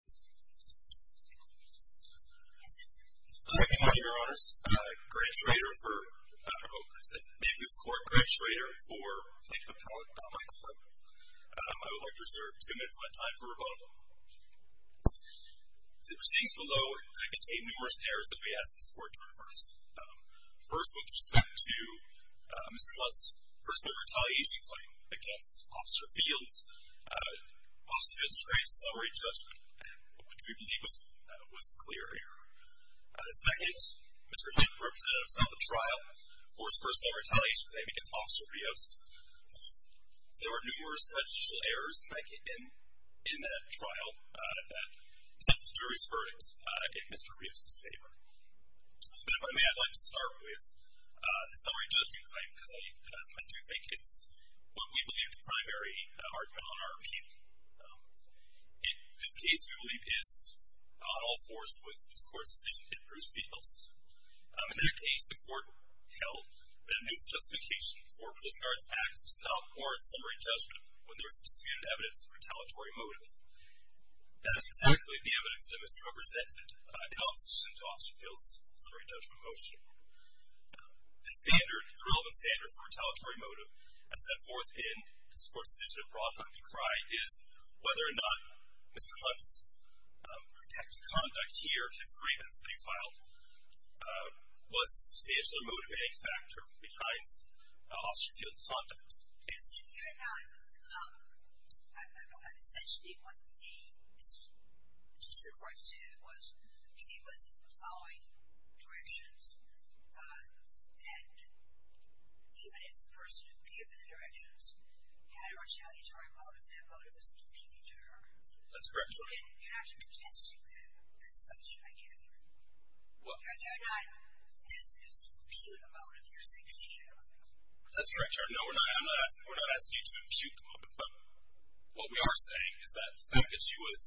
The proceedings below contain numerous errors that we ask this Court to reverse. First, with respect to Mr. Hunt's personal retaliation claim against Officer Fields. Officer Fields' great summary judgment, which we believe was a clear error. Second, Mr. Hunt represented himself at trial for his personal retaliation claim against Officer Rios. There were numerous legislative errors in that trial that the jury's verdict in Mr. Rios' favor. But if I may, I'd like to start with the summary judgment claim, because I do think it's what we believe the primary argument on our appeal. It is a case we believe is on all fours with this Court's decision to hit Bruce Fields. In that case, the Court held that a misjustification for prison guard's acts to stop warrant summary judgment when there was disputed evidence of retaliatory motive. That is exactly the evidence that Mr. Hunt presented in opposition to Officer Fields' summary judgment motion. The standard, the relevant standard for retaliatory motive as set forth in this Court's decision to broadly decry is whether or not Mr. Hunt's protective conduct here, his grievance that he filed, was a substantially motivating factor behind Officer Fields' conduct. So you're not, essentially what the Supreme Court said was, he was following directions, and even if the person who appeared for the directions had a retaliatory motive, that motive was to appeal to her. That's correct. You're not suggesting that as such, I can't hear you. What? You're not, is the appealing motive you're saying superior to her? That's correct, Your Honor. No, we're not asking you to impute the motive. But what we are saying is that the fact that she was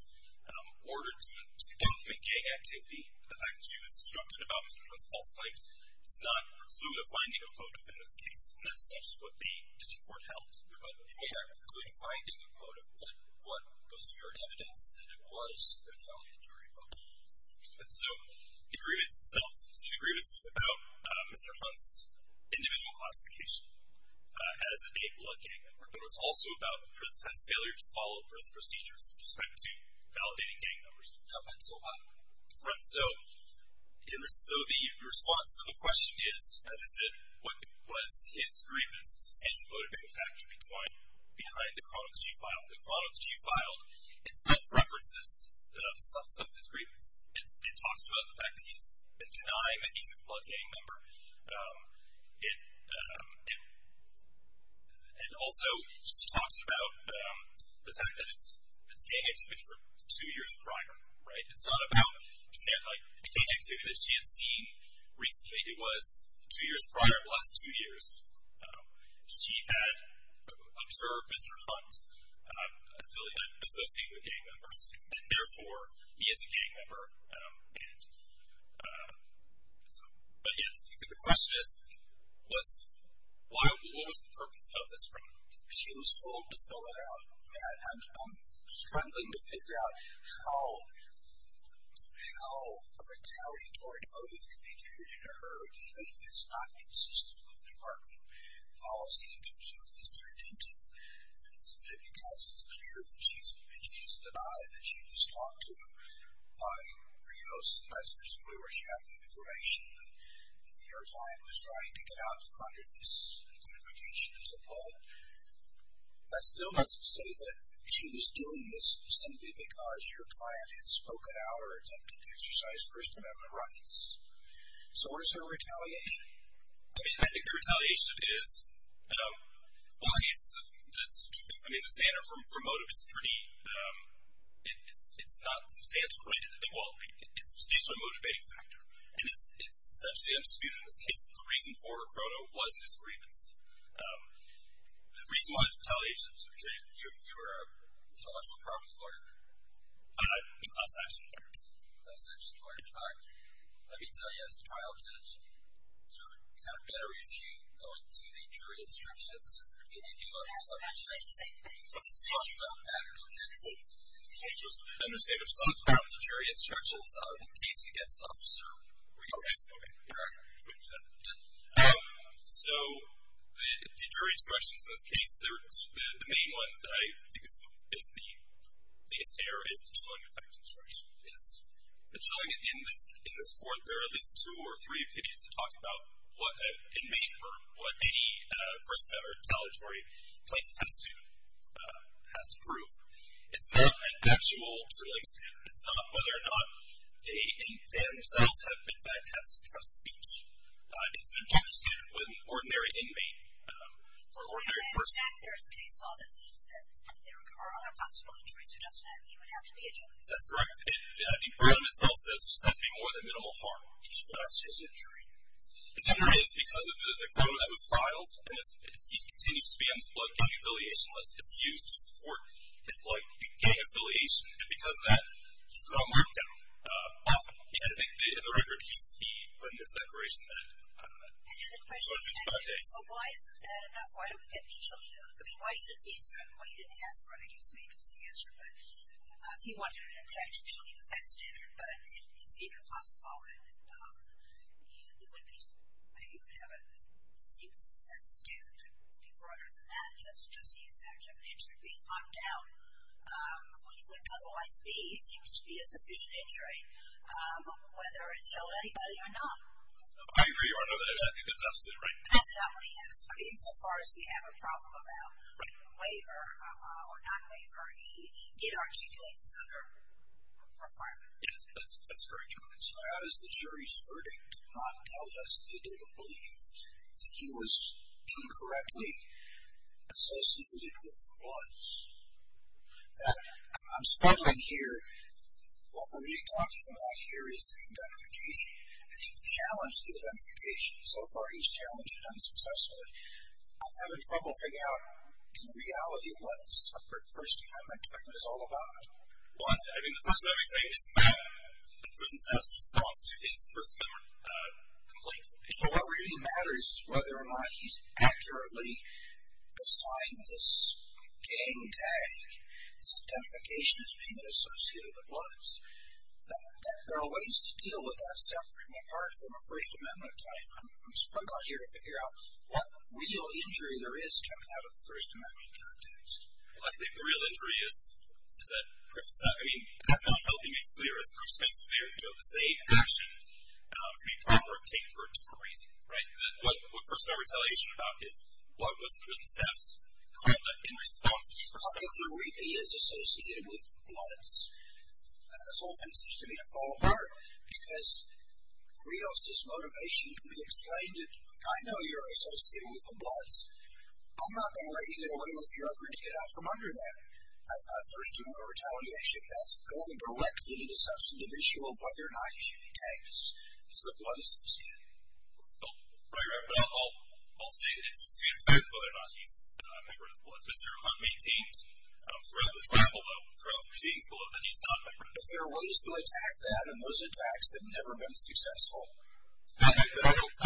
ordered to document gang activity, the fact that she was instructed about Mr. Hunt's false claims, does not preclude a finding of motive in this case. And that's such what the district court held. But it may not preclude a finding of motive, but what goes to your evidence that it was retaliatory motive? So the grievance itself. So the grievance was about Mr. Hunt's individual classification as a male blood gang member, but it was also about the person's failure to follow prison procedures with respect to validating gang numbers. No, that's a lie. Correct. So the response to the question is, as I said, what was his grievance? It's a substantially motivating factor behind the chronology file. The chronology file itself references some of his grievance. It talks about the fact that he's been denied that he's a blood gang member. It also talks about the fact that it's gang activity from two years prior. Right? It's not about, like, the gang activity that she had seen recently. It was two years prior plus two years. She had observed Mr. Hunt's affiliate associated with gang members, and, therefore, he is a gang member. But, yes, the question is, what was the purpose of this crime? She was told to fill it out. I'm struggling to figure out how a retaliatory motive can be attributed to her, even if it's not consistent with the department policy in terms of what this turned into, because it's clear that she's denied that she was talked to by Rios, and that's presumably where she had the information that your client was trying to get out from under this identification as a blood. That still doesn't say that she was doing this simply because your client had spoken out or attempted to exercise First Amendment rights. So what is her retaliation? I mean, I think her retaliation is, well, in this case, I mean, the standard for motive is pretty, it's not substantial, right? It's a substantial motivating factor. And it's essentially undisputed in this case that the reason for Crono was his grievance. The reason why it's retaliation is because you were an intellectual property lawyer. In class action. Class action lawyer. All right. Let me tell you as a trial judge, you know, it kind of better issue going to the jury instructions than you do on the subject. So I don't know if you can understand. I'm sorry. The jury instructions are the case against Officer Rios. Okay. Okay. You're on. So the jury instructions in this case, the main one that I think is the error is the chilling effect instructions. Yes. The chilling, in this court, there are at least two or three opinions that talk about what an inmate or what any person that are retaliatory plaintiff has to prove. It's not an actual sort of like statement. It's not whether or not they themselves have, in fact, had some sort of speech. It's a judge's statement with an ordinary inmate or ordinary person. I understand if there is case law that says that there are other possible injuries or just that you would have to be a judge. That's correct. I think Breland itself says there just has to be more than minimal harm, which is what I've said to the jury. And so there is, because of the clause that was filed, and he continues to be on this blood gang affiliation list, it's used to support his blood gang affiliation, and because of that, he's got a markdown often. And I think in the record, he's written this declaration that, I don't know, it's been 55 days. So why isn't that enough? Why don't we get the children out? I mean, why shouldn't the instructor, well, you didn't ask for it. I guess maybe it's the answer. But he wanted an objection to the children's defense standard, but it's even possible that you could have it. It seems that the standard could be broader than that, just does he, in fact, have an injury. He's locked down. What he would otherwise be seems to be a sufficient injury, whether it showed anybody or not. I agree with that. I think that's absolutely right. That's not what he has. I think so far as we have a problem about waiver or non-waiver, he did articulate this other requirement. Yes, that's very true. As the jury's verdict did not tell us, they didn't believe that he was incorrectly associated with the bloods. I'm struggling here. What we're talking about here is the identification. And he can challenge the identification. So far he's challenged it unsuccessfully. I'm having trouble figuring out, in reality, what the separate First Amendment claim is all about. Well, I mean, the First Amendment claim doesn't set a response to his First Amendment complaint. But what really matters is whether or not he's accurately assigned this gang tag, this identification as being associated with the bloods. There are ways to deal with that separately. And apart from a First Amendment claim, I'm struggling here to figure out what real injury there is coming out of the First Amendment context. Well, I think the real injury is that, I mean, that's what I'm hoping makes clear, as Bruce makes clear, you know, the same action could be proper if taken for a different reason. Right? What First Amendment retaliation is about is what was in the steps called in response to the First Amendment. I think where we'd be is associated with the bloods. This whole thing seems to me to fall apart because Rios' motivation can be explained. I know you're associated with the bloods. I'm not going to let you get away with your effort to get out from under that. That's not First Amendment retaliation. That's going directly to the substantive issue of whether or not he should be tagged as a blood associate. Right, right. But I'll say that it stands to whether or not he's a member of the bloods. Mr. Hunt maintains throughout this example, though, throughout the receipts below that he's not a member of the bloods. But there are ways to attack that, and those attacks have never been successful.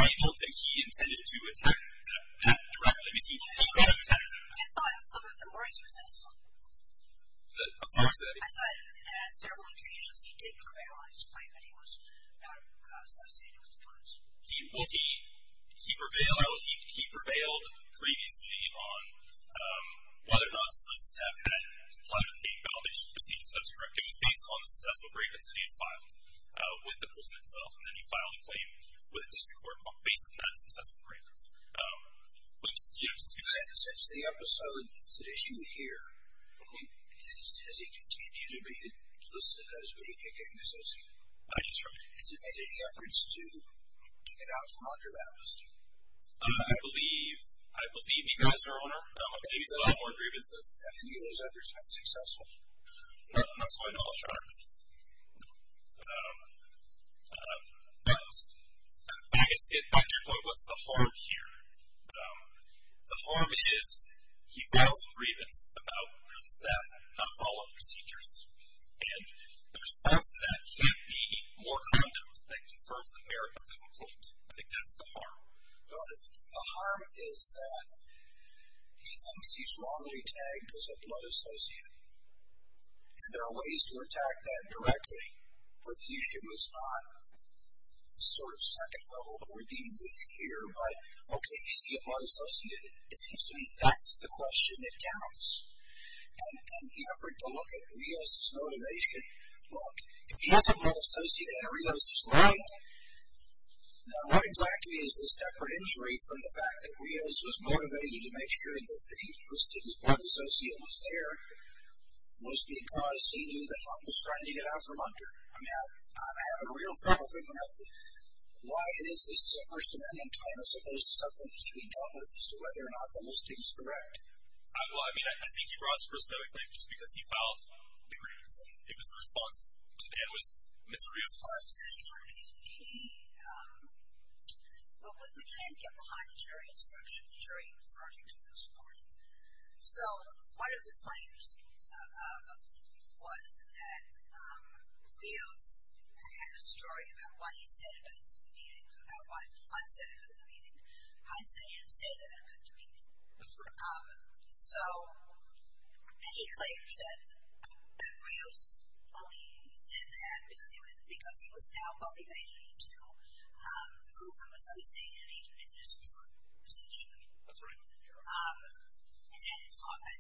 I don't think he intended to attack that directly. I thought some of the words he was going to say. I'm sorry, say it again. I thought at several occasions he did prevail on his claim that he was not associated with the bloods. Well, he prevailed previously on whether or not there was a successful grievance that he had filed with the person himself, and then he filed a claim with a district court based on that successful grievance. Since the episode, the issue here, has he continued to be listed as being a gang associate? I just heard. Has he made any efforts to get out from under that listing? I believe he has, Your Honor. Maybe those are more grievances. Have any of those efforts been successful? No, that's all I know, Your Honor. No. Well, I guess, in fact, your point was the harm here. The harm is he files a grievance about his death, not follow up procedures. And the response to that can't be more condoms that confirms the merit of the complaint. I think that's the harm. The harm is that he thinks he's wrongly tagged as a blood associate, and there are ways to attack that directly. Perthusia was not the sort of second level that we're dealing with here. But, okay, is he a blood associate? It seems to me that's the question that counts. And the effort to look at Rios' motivation, look, if he has a blood associate and Rios is right, now what exactly is the separate injury from the fact that Rios was motivated to make sure that the listing's blood associate was there, was because he knew that Hunt was trying to get out from under? I'm having a real trouble figuring out why it is this is a First Amendment claim as opposed to something that should be dealt with as to whether or not the listing's correct. Well, I mean, I think he brought it up personally just because he filed the grievance, and it was the response to Dan was Mr. Rios. Well, if we can't get behind the jury instruction, the jury referred him to this court. So one of the claims was that Rios had a story about what he said about this meeting, about what Hunt said about the meeting. Hunt said he didn't say that about the meeting. That's correct. So he claims that Rios only said that because he was now motivated to prove him associating and even if this was true, essentially. That's right. And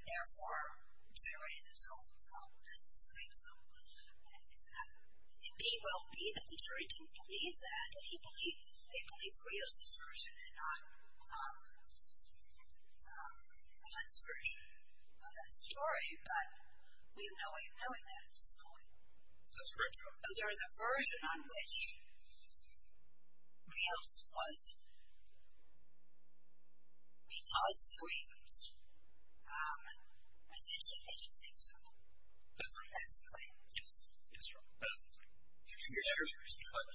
therefore, he said, right, this is his claim. So it may well be that the jury didn't believe that. They believe Rios' version and not Hunt's version of that story, but we have no way of knowing that at this point. That's correct, Your Honor. So there is a version on which Rios was, because of the grievance, essentially making things up. That's right. That's the claim. Yes, that's right. That is the claim. Did you agree with Mr. Hunt?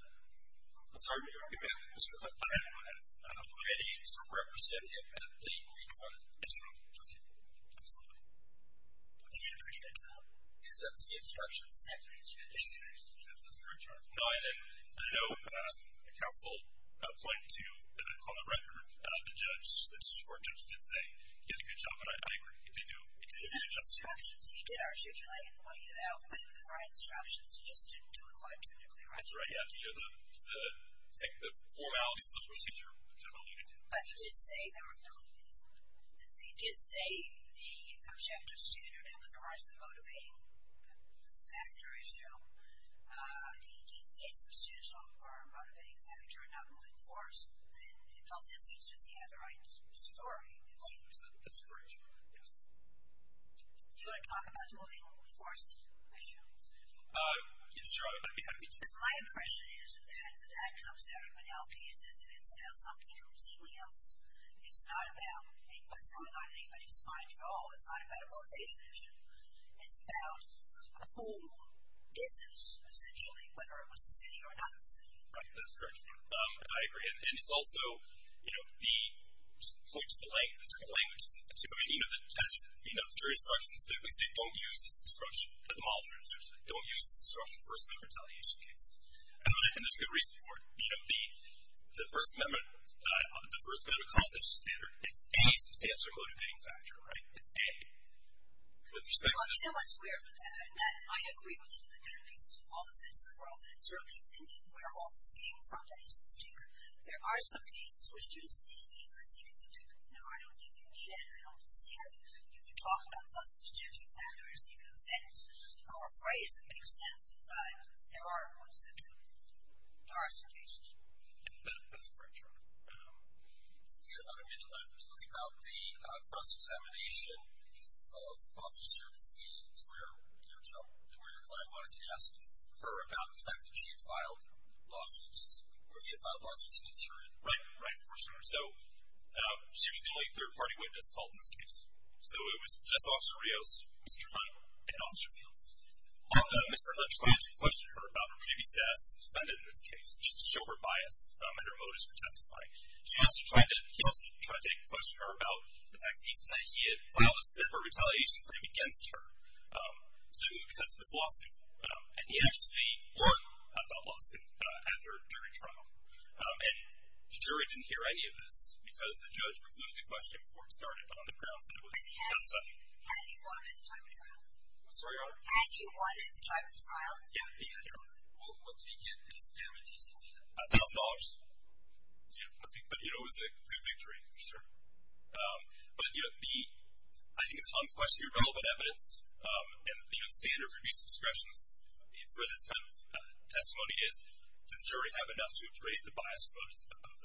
I'm sorry, did you agree with Mr. Hunt? I agree with him. Did he represent him at the meeting? He did. Absolutely. Okay. Absolutely. Did you agree with Hunt? Is that the instructions? That's right, Your Honor. Did you agree with Mr. Hunt? That's correct, Your Honor. No, I didn't. I know the counsel pointed to, on the record, the judge, the support judge did say he did a good job, and I agree. He did do a good job. He did have instructions. He did articulate what he had outlined in the right instructions. He just didn't do it quite technically right. That's right, yeah. The formalities of the procedure kind of alluded to that. But he did say there were no, he did say the objective standard and the rise of the motivating factor issue. He did say substantial or motivating factor, not moving force. In both instances, he had the right story. That's correct, Your Honor. Yes. Do you want to talk about the motivating force issue? Yes, Your Honor, I'd be happy to. My impression is that that comes out in denial cases, and it's about something completely else. It's not about what's going on in anybody's mind at all. It's not about a motivation issue. It's about who did this, essentially, whether it was the city or not the city. Right, that's correct. I agree. And it's also, you know, the point to the language, but, you know, as jurisprudence, we say don't use this instruction. Don't use this instruction in first amendment retaliation cases. And there's good reason for it. You know, the first amendment, the first amendment constitutional standard, it's a substantial motivating factor, right? It's a. With respect to this. Well, he's not much clearer than that, and I agree with you. That kind of makes all the sense in the world, and it's certainly where all this came from to use the standard. There are some cases where students are being angry and think it's a joke. No, I don't think you need it. I don't see it. You can talk about substantive standards, and you can say it's a phrase that makes sense, but there are points that do. There are some cases. That's a great point. We have about a minute left. Let's look about the cross-examination of Officer V. Trier, your client wanted to ask her about the fact that she had filed lawsuits, or he had filed lawsuits against her. Right, right, for sure. So she was the only third-party witness called in this case. So it was just Officer Rios, Mr. Trier, and Officer Fields. Mr. Hunt tried to question her about her previous status as a defendant in this case, just to show her bias and her motives for testifying. He also tried to question her about the fact that he said that he had filed a separate retaliation claim against her because of this lawsuit. And he actually won a filed lawsuit after a jury trial. And the jury didn't hear any of this, because the judge reviewed the question before it started on the grounds that it was unsubstantive. Had he won at the time of the trial? I'm sorry? Had he won at the time of the trial? Yeah, he had won. What did he get? How much did he get? A thousand dollars. But it was a good victory, for sure. But, you know, I think it's unquestionably relevant evidence, and, you know, the standard for abuse of discretion for this kind of testimony is, does the jury have enough to appraise the bias or motives of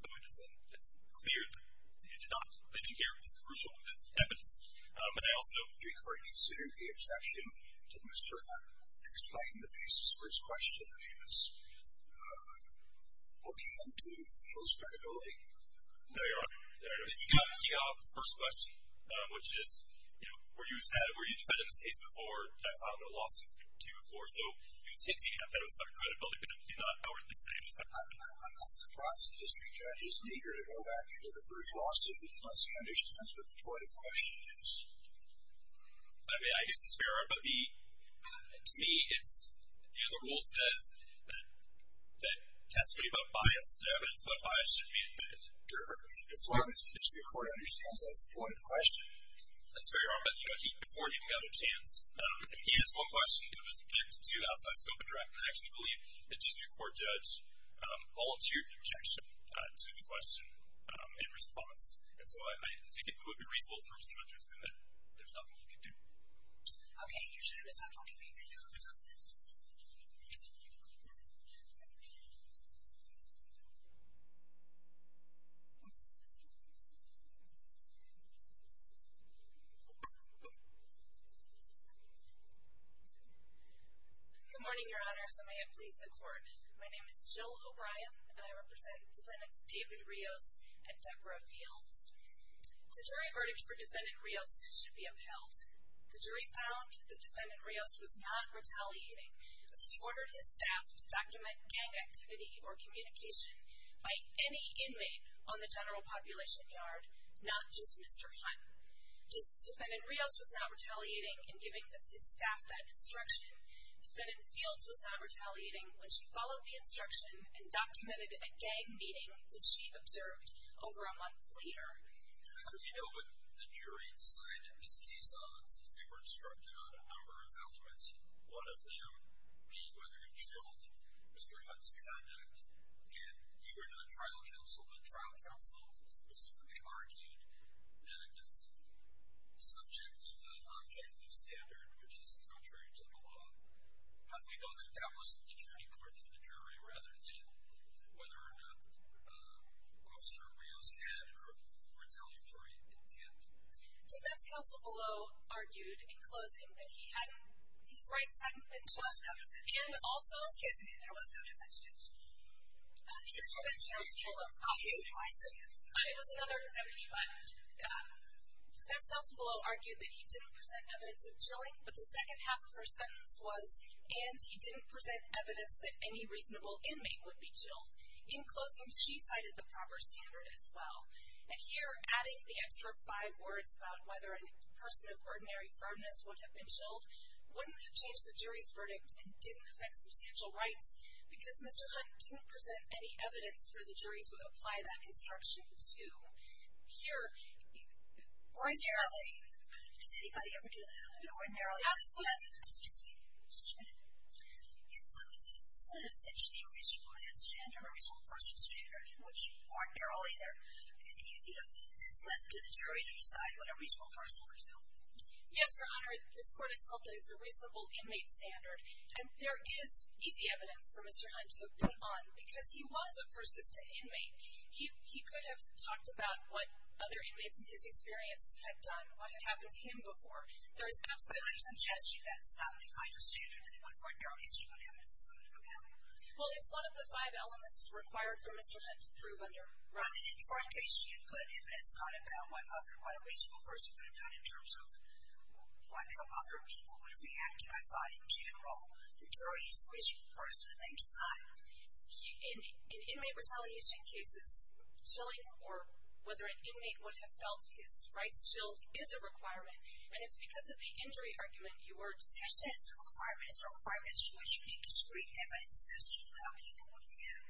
the witness? And it's clear that they did not. They didn't hear as crucial of this evidence. But I also... Do you consider the objection to Mr. Hunt explaining the basis for his question that he was looking into Fields' credibility? No, Your Honor. He got off the first question, which is, you know, were you a defendant in this case before that filed a lawsuit to you before? So he was hinting at that it was about credibility, but he did not outrightly say it was about credibility. I'm not surprised the district judge is eager to go back into the first lawsuit unless he understands what the point of the question is. I mean, I guess it's fair, but to me it's, you know, the rule says that testimony about bias is evidence, but bias should be admitted. Your Honor, as long as the district court understands what's the point of the question. That's fair, Your Honor. But, you know, before he even got a chance, he has one question that was objected to outside scope of draft, and I actually believe the district court judge volunteered the objection to the question in response. And so I think it would be reasonable for Mr. Hunt to assume that there's nothing he can do. Okay. You should have stopped talking. Thank you. Thank you. Good morning, Your Honor. So may it please the court. My name is Jill O'Brien, and I represent defendants David Rios and Deborah Fields. The jury verdict for defendant Rios should be upheld. The jury found that defendant Rios was not retaliating. He ordered his staff to document gang activity or communication by any inmate on the general population yard, not just Mr. Hunt. Just as defendant Rios was not retaliating in giving his staff that instruction, defendant Fields was not retaliating when she followed the instruction and documented a gang meeting that she observed over a month later. How do we know what the jury decided this case on? Since they were instructed on a number of elements, one of them being whether it killed Mr. Hunt's conduct. And you were not trial counsel, but trial counsel specifically argued that it was subject to an objective standard, which is contrary to the law. How do we know that that was the jury point for the jury rather than whether or not Officer Rios had a retaliatory intent? Defendant's counsel below argued in closing that he hadn't, his rights hadn't been chilled. And also, Excuse me, there was no defense against you. The defendant's counsel below argued that he didn't present evidence of chilling, but the second half of her sentence was, and he didn't present evidence that any reasonable inmate would be chilled. In closing, she cited the proper standard as well. And here, adding the extra five words about whether a person of ordinary firmness would have been chilled, wouldn't have changed the jury's verdict and didn't affect substantial rights because Mr. Hunt didn't present any evidence for the jury to apply that instruction to. Here, Ordinarily. Does anybody ever do that? Ordinarily. Excuse me. Just a minute. You said essentially a reasonable inmate standard, a reasonable person standard, which ordinarily there is left to the jury to decide what a reasonable person would do. Yes, Your Honor. This court has held that it's a reasonable inmate standard. And there is easy evidence for Mr. Hunt to have been on because he was a persistent inmate. He could have talked about what other inmates in his experience had done, what had happened to him before. There is absolutely. I'm suggesting that it's not the kind of standard that would ordinarily include evidence. Well, it's one of the five elements required for Mr. Hunt to prove under. Right. And if, for instance, he included evidence not about what other, what a reasonable person could have done in terms of what other people would have reacted, I thought in general, the jury is the reasonable person and they decide. In inmate retaliation cases, chilling or whether an inmate would have felt his rights chilled is a requirement. And it's because of the injury argument, you were. Requirements to which you need discreet evidence as to how people would react.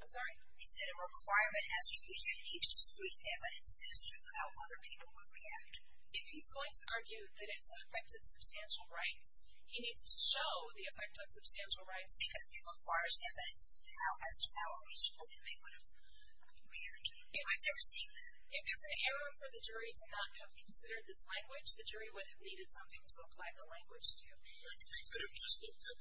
I'm sorry. He said a requirement has to be discreet evidence as to how other people would react. If he's going to argue that it's affected substantial rights, he needs to show the effect on substantial rights because it requires evidence as to how a reasonable inmate would have reacted. I've never seen that. If there's an error for the jury to not have considered this language, the jury would have needed something to apply the language to. I think they could have just looked at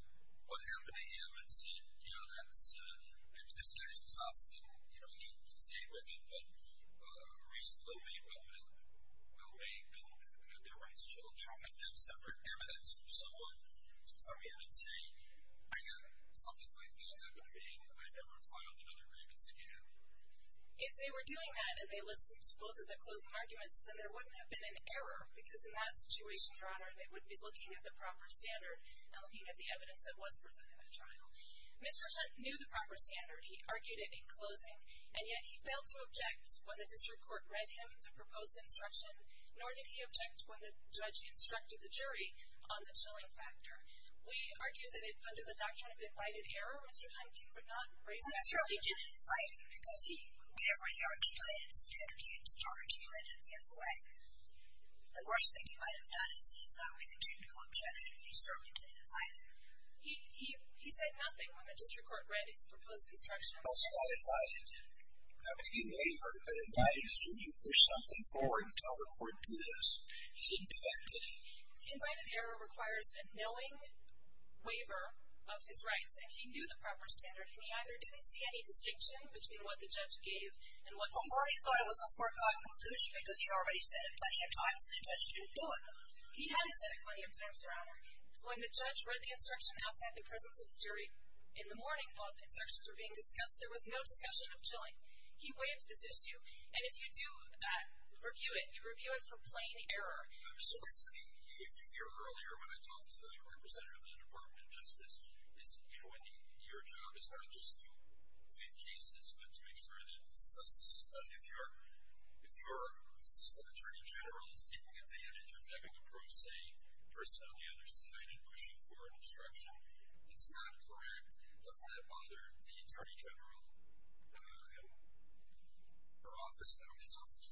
what happened to him and said, you know, that's, I mean, this guy's tough and you know, he can stay with him, but a reasonable inmate will, will make them have their rights chilled. You don't have to have separate evidence for someone to come in and say, I got something like that happened to me and I never filed another grievance again. If they were doing that and they listened to both of the closing arguments, then there wouldn't have been an error because in that situation, Your Honor, they wouldn't be looking at the proper standard and looking at the evidence that was presented at trial. Mr. Hunt knew the proper standard. He argued it in closing and yet he failed to object when the district court read him the proposed instruction, nor did he object when the judge instructed the jury on the chilling factor. We argue that it under the doctrine of invited error, Mr. Hunt, I'm sure he didn't invite him because he, whenever he argued it, instead he started to argue it in the other way. The worst thing he might've done is he's not with a judge club judge and he certainly didn't invite him. He, he, he said nothing when the district court read his proposed instruction. It's not invited, not making a waiver, but invited is when you push something forward and tell the court do this. He didn't do that, did he? Invited error requires a knowing waiver of his rights and he knew the proper standard. And he either didn't see any distinction between what the judge gave and what he thought it was a foregone conclusion because he already said it plenty of times and the judge didn't do it. He hadn't said it plenty of times, your Honor. When the judge read the instruction outside the presence of the jury in the morning, while the instructions were being discussed, there was no discussion of chilling. He waived this issue. And if you do that, review it, you review it for plain error. If you hear earlier, when I talked to the representative of the department of justice, your job is not just to do cases, but to make sure that the substance is done. If your assistant attorney general is taking advantage of having a pro se person on the other side and pushing forward instruction, it's not correct. Doesn't that bother the attorney general, her office, not only his office.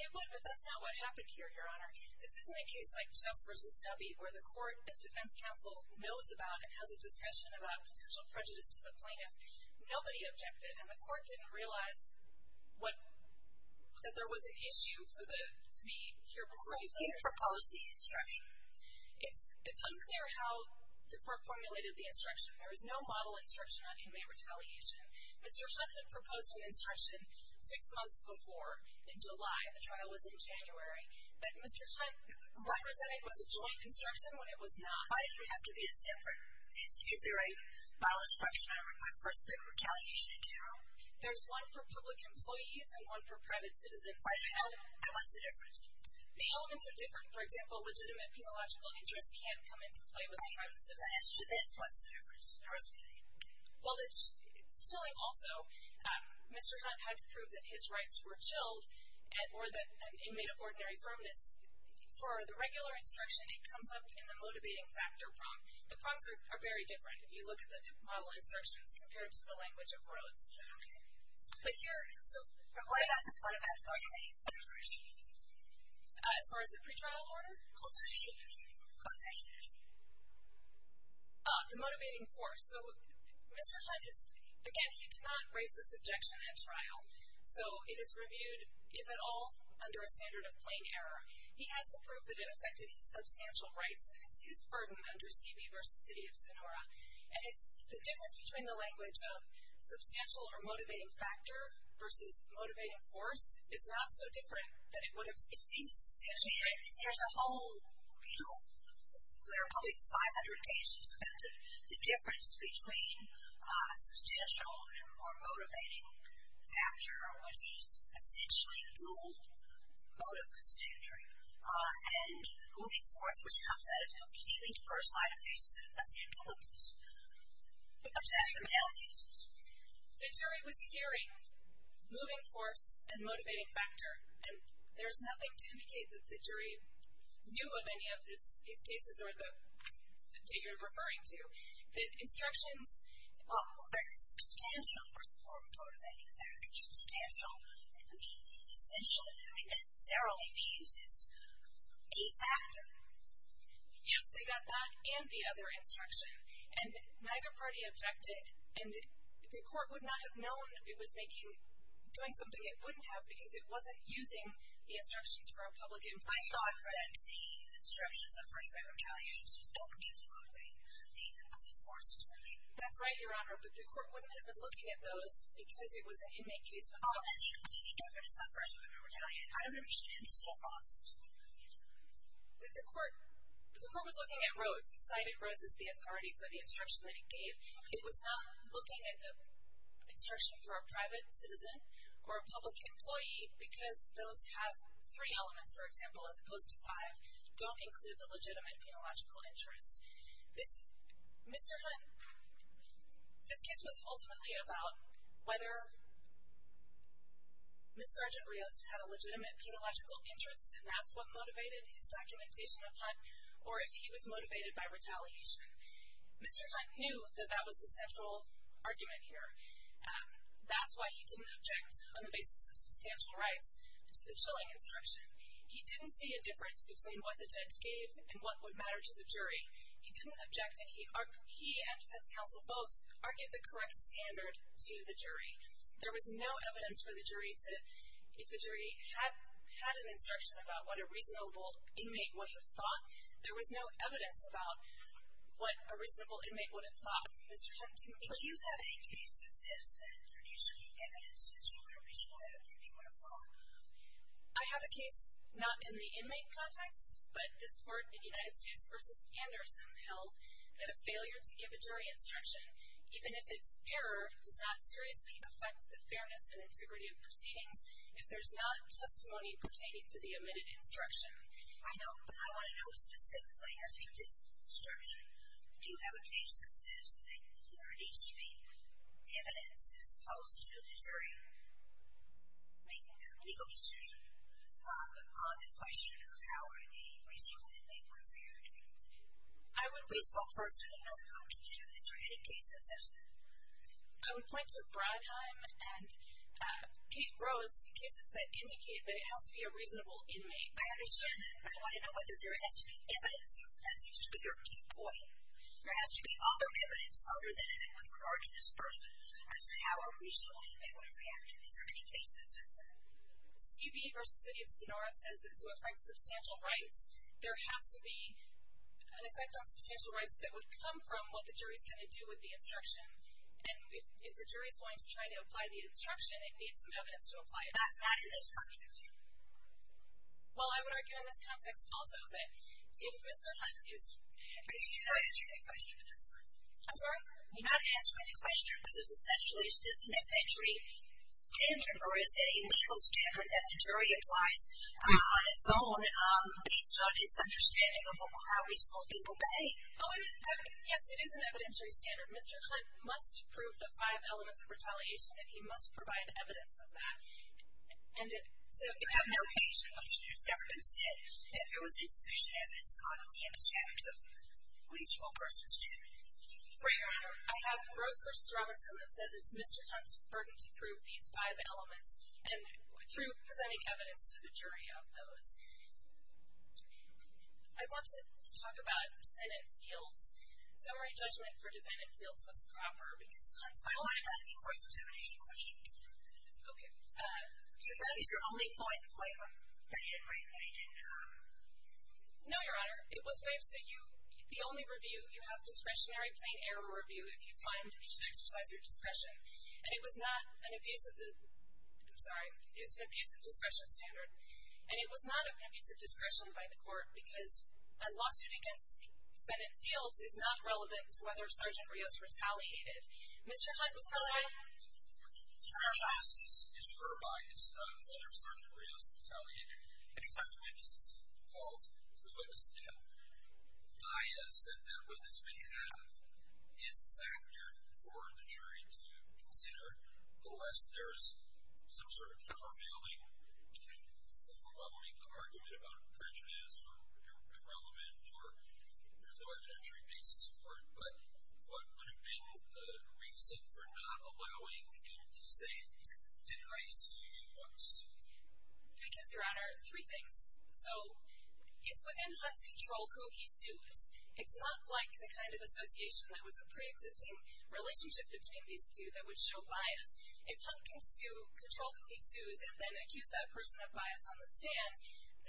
It would, but that's not what happened here, your Honor. This isn't a case like Jess versus Debbie, where the court defense council knows about and has a discussion about potential prejudice to the plaintiff. Nobody objected. And the court didn't realize what, that there was an issue for the, to be here before you propose the instruction. It's, it's unclear how the court formulated the instruction. There is no model instruction on inmate retaliation. Mr. Hunt had proposed an instruction six months before in July, the trial was in January, but Mr. Hunt represented was a joint instruction when it was not. Why did you have to be a separate? Is, is there a model instruction on inmate retaliation in general? There's one for public employees and one for private citizens. And what's the difference? The elements are different. For example, legitimate penological interest can come into play with the private citizen. As to this, what's the difference? Well, it's chilling. Also, Mr. Hunt had to prove that his rights were chilled and, and more than an inmate of ordinary firmness. For the regular instruction, it comes up in the motivating factor prompt. The prompts are very different. If you look at the model instructions compared to the language of Rhodes. But here, so. What about the motivating force? As far as the pretrial order? Quotations. Quotations. The motivating force. So Mr. Hunt is, again, he did not raise this objection at trial. So it is reviewed. If at all, under a standard of plain error, he has to prove that it affected his substantial rights. And it's his burden under CB versus City of Sonora. And it's the difference between the language of substantial or motivating factor versus motivating force. It's not so different than it would have. There's a whole, you know, there are probably 500 cases. The difference between a substantial or motivating factor, which is essentially a dual motive constraint, and moving force, which comes out of healing to first line of cases, and nothing to do with this, comes out of the male cases. The jury was hearing moving force and motivating factor. And there's nothing to indicate that the jury knew of any of these cases or the, that you're referring to. The instructions. Well, there's a substantial or motivating factor. Substantial. I mean, essentially, it necessarily uses a factor. Yes, they got that and the other instruction. And neither party objected. And the court would not have known it was making, doing something it wouldn't have, because it wasn't using the instructions for a public inquiry. I thought that the instructions of first line retaliation, the moving forces. That's right, Your Honor. But the court wouldn't have been looking at those because it was an inmate case. I don't understand this whole process. The court, the court was looking at roads. He cited roads as the authority for the instruction that he gave. It was not looking at the instruction for a private citizen or a public employee, because those have three elements, for example, as opposed to five, don't include the legitimate, the illogical interest. This, Mr. Hunt, this case was ultimately about whether. Ms. Sergeant Rios had a legitimate, the illogical interest. And that's what motivated his documentation of hunt. Or if he was motivated by retaliation, Mr. Hunt knew that that was the central argument here. That's why he didn't object on the basis of substantial rights to the chilling instruction. He didn't see a difference between what the judge gave and what would matter to the jury. He didn't object. And he, he and defense counsel, both are get the correct standard to the jury. There was no evidence for the jury to, if the jury had had an instruction about what a reasonable inmate would have thought, there was no evidence about what a reasonable inmate would have thought. Mr. Hunt. Do you have any cases? I have a case not in the inmate context, but this court in the United States versus Anderson held that a failure to give a jury instruction, even if it's error does not seriously affect the fairness and integrity of proceedings. If there's not testimony pertaining to the admitted instruction, I know, but I want to know specifically as to this structure, do you have a case that says that there needs to be evidence that the evidence is posed to the jury? We can do a legal decision on the question of how a reasonable inmate would react. I would be spoke personally. I don't know if you do this or any cases. I would point to Brodheim and Kate Rose cases that indicate that it has to be a reasonable inmate. I understand that, but I want to know whether there has to be evidence. That seems to be your key point. There has to be other evidence other than with regard to this person. As to how a reasonable inmate would react. Is there any case that says that? CB versus city of Sonora says that to affect substantial rights, there has to be an effect on substantial rights that would come from what the jury's going to do with the instruction. And if the jury is going to try to apply the instruction, it needs some evidence to apply it. That's not in this context. Well, I would argue in this context also that if Mr. Hunt is, I'm sorry. You're not answering the question. This is essentially, is this an evidentiary standard or is it a legal standard that the jury applies on its own based on its understanding of how reasonable people behave? Oh, yes, it is an evidentiary standard. Mr. Hunt must prove the five elements of retaliation, and he must provide evidence of that. And it took. I have no case in which it's ever been said that there was insufficient evidence on the extent of reasonable person standard. Your Honor, I have Rose versus Robinson that says it's Mr. Hunt's burden to prove these five elements. And through presenting evidence to the jury of those, I want to talk about defendant fields. Summary judgment for defendant fields was proper because. I want to go back to your question. Okay. So that is your only point waiver that he didn't write, that he didn't have? No, Your Honor. It was waived. So you, the only review you have discretionary plain error review, if you find that you should exercise your discretion. And it was not an abusive. I'm sorry. It's an abusive discretion standard. And it was not an abusive discretion by the court because a lawsuit against defendant fields is not relevant to whether Sergeant Rios retaliated. Mr. Hunt. Mr. Hunt. Your Honor, this is her bias, whether Sergeant Rios retaliated. And it's not the way this is called. It's the way this is dealt. Bias that that witness may have is a factor for the jury to consider, unless there's some sort of countervailing overwhelming argument about prejudice or irrelevant, or there's no evidentiary basis for it. But what would have been a reason for not allowing him to say, did I see you on a suit? Because Your Honor, three things. So it's within Hunt's control who he sues. It's not like the kind of association that was a preexisting relationship between these two that would show bias. If Hunt can sue, control who he sues and then accuse that person of bias on the stand,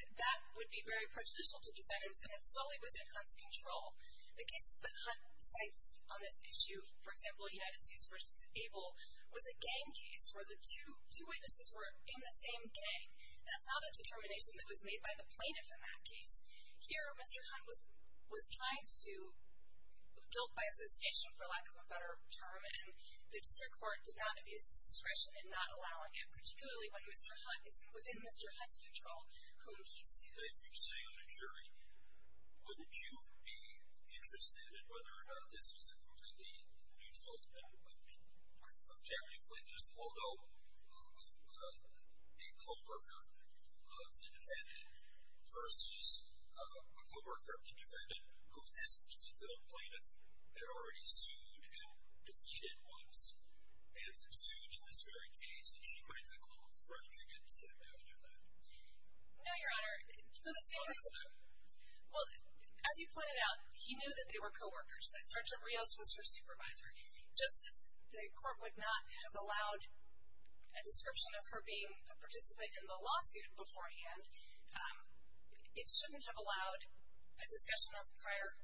that would be very prejudicial to defendants. And it's solely within Hunt's control. The cases that Hunt cites on this issue, for example, United States versus Abel was a gang case where the two, the two witnesses were in the same gang. That's not a determination that was made by the plaintiff in that case. Here, Mr. Hunt was, was trying to do guilt by association, for lack of a better term. And the district court did not abuse its discretion in not allowing it, particularly when Mr. Hunt is within Mr. Hunt's control, whom he sued. If you say on a jury, would you be interested in whether or not this was a completely neutral objectivity plaintiff, although a co-worker of the defendant versus a co-worker of the defendant, who this particular plaintiff had already sued and defeated once and sued in this very case. And she might have a little grudge against him after that. No, Your Honor. Well, as you pointed out, he knew that they were co-workers, that Sergeant Rios was her supervisor. Just as the court would not have allowed a description of her being a participant in the lawsuit beforehand, it shouldn't have allowed a discussion of prior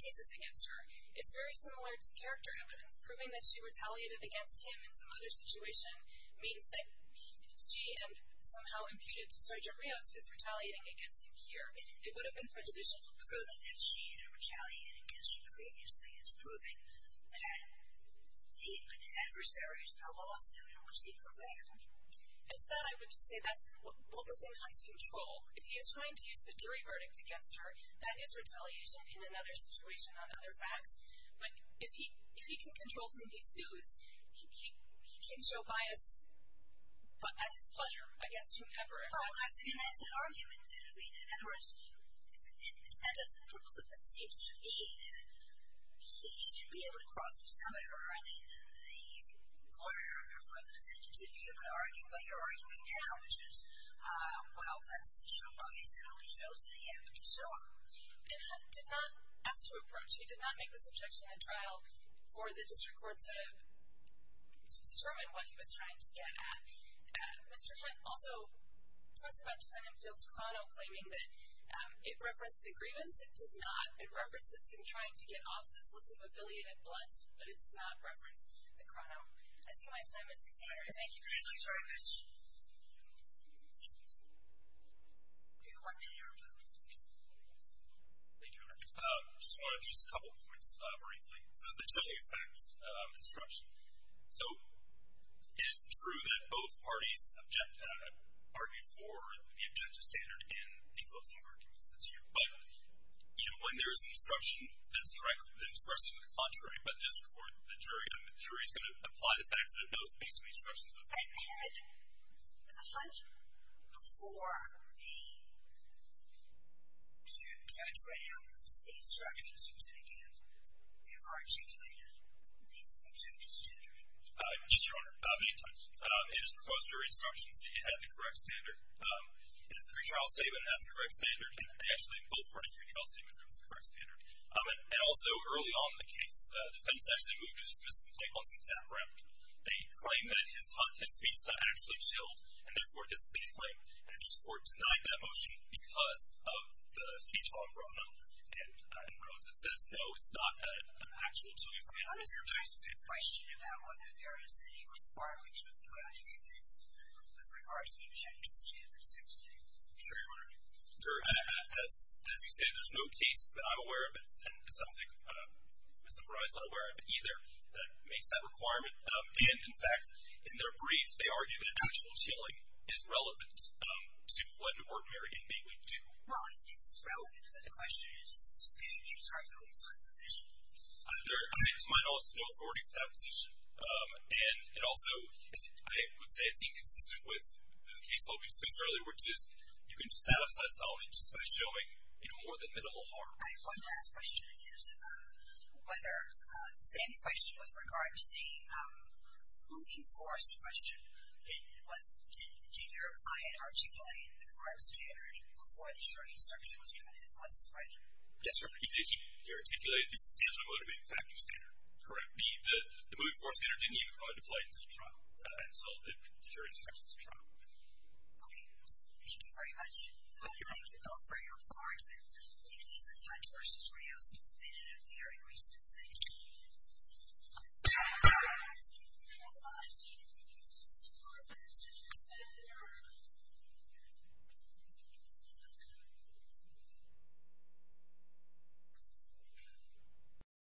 cases against her. It's very similar to character evidence. Proving that she retaliated against him in some other situation means that she and somehow imputed to Sergeant Rios is retaliating against him here. It would have been prejudicial. Proving that she had retaliated against him previously is proving that the adversary is in a lawsuit in which he prevailed. And to that I would just say that's what the defendant has control. If he is trying to use the jury verdict against her, that is retaliation in another situation on other facts. But if he can control whom he sues, he can show bias at his pleasure against whomever. Well, that's an argument. In other words, it seems to me that he should be able to cross himself. I mean, the lawyer for the defendant should be able to argue what you're arguing now, which is, well, that's show bias. It only shows in the end. And so on. And Hunt did not ask to approach. He did not make this objection at trial for the district court to determine what he was trying to get at. Mr. Hunt also talks about Defendant Fields' chrono, claiming that it referenced the grievance. It does not. It references him trying to get off this list of affiliated blunts, but it does not reference the chrono. I see my time is up. Thank you. Thank you very much. Do you want to add anything? Thank you. I just want to address a couple points briefly. So the tele-effects construction. So it is true that both parties objected, argued for the objection standard in the closing arguments. That's true. But, you know, when there's an instruction that's correct, the instruction is contrary. But just for the jury, I mean, the jury is going to apply the facts that it knows based on the instructions of the jury. I had Hunt before me to judge right out of the instructions. And, again, we have our articulator. He's objected to the standard. Yes, Your Honor. May I touch? It is proposed to read instructions at the correct standard. It is a pretrial statement at the correct standard. And actually, both parties' pretrial statements are at the correct standard. And also, early on in the case, the defendants actually moved to dismiss the complaint once it sat around. They claimed that his speech actually chilled, and therefore dismissed the complaint. And the district court denied that motion because of the speech chrono and wrote that says, no, it's not an actual chilling standard. Your Honor, I have a question about whether there is any requirement to apply to defendants with regards to objections to the standard 16. Sure, Your Honor. As you say, there's no case that I'm aware of, and Ms. O'Brien is not aware of either, that makes that requirement. And, in fact, in their brief, they argue that actual chilling is relevant to what an ordinary inmate would do. Well, I think it's relevant, but the question is sufficient. She's arguing it's not sufficient. There is, in my knowledge, no authority for that position. And also, I would say it's inconsistent with the case that we discussed earlier, which is you can just set up such a solvent just by showing more than minimal harm. All right. One last question is whether the same question with regard to the moving force question, did your client articulate the correct standard before the jury instruction was given? It was, right? Yes, sir. He articulated the standard motivating factor standard correctly. The moving force standard didn't even apply until the trial, and so the jury instruction was a trial. Okay. Thank you very much. Thank you both for your argument. Recess. Thank you. Thank you.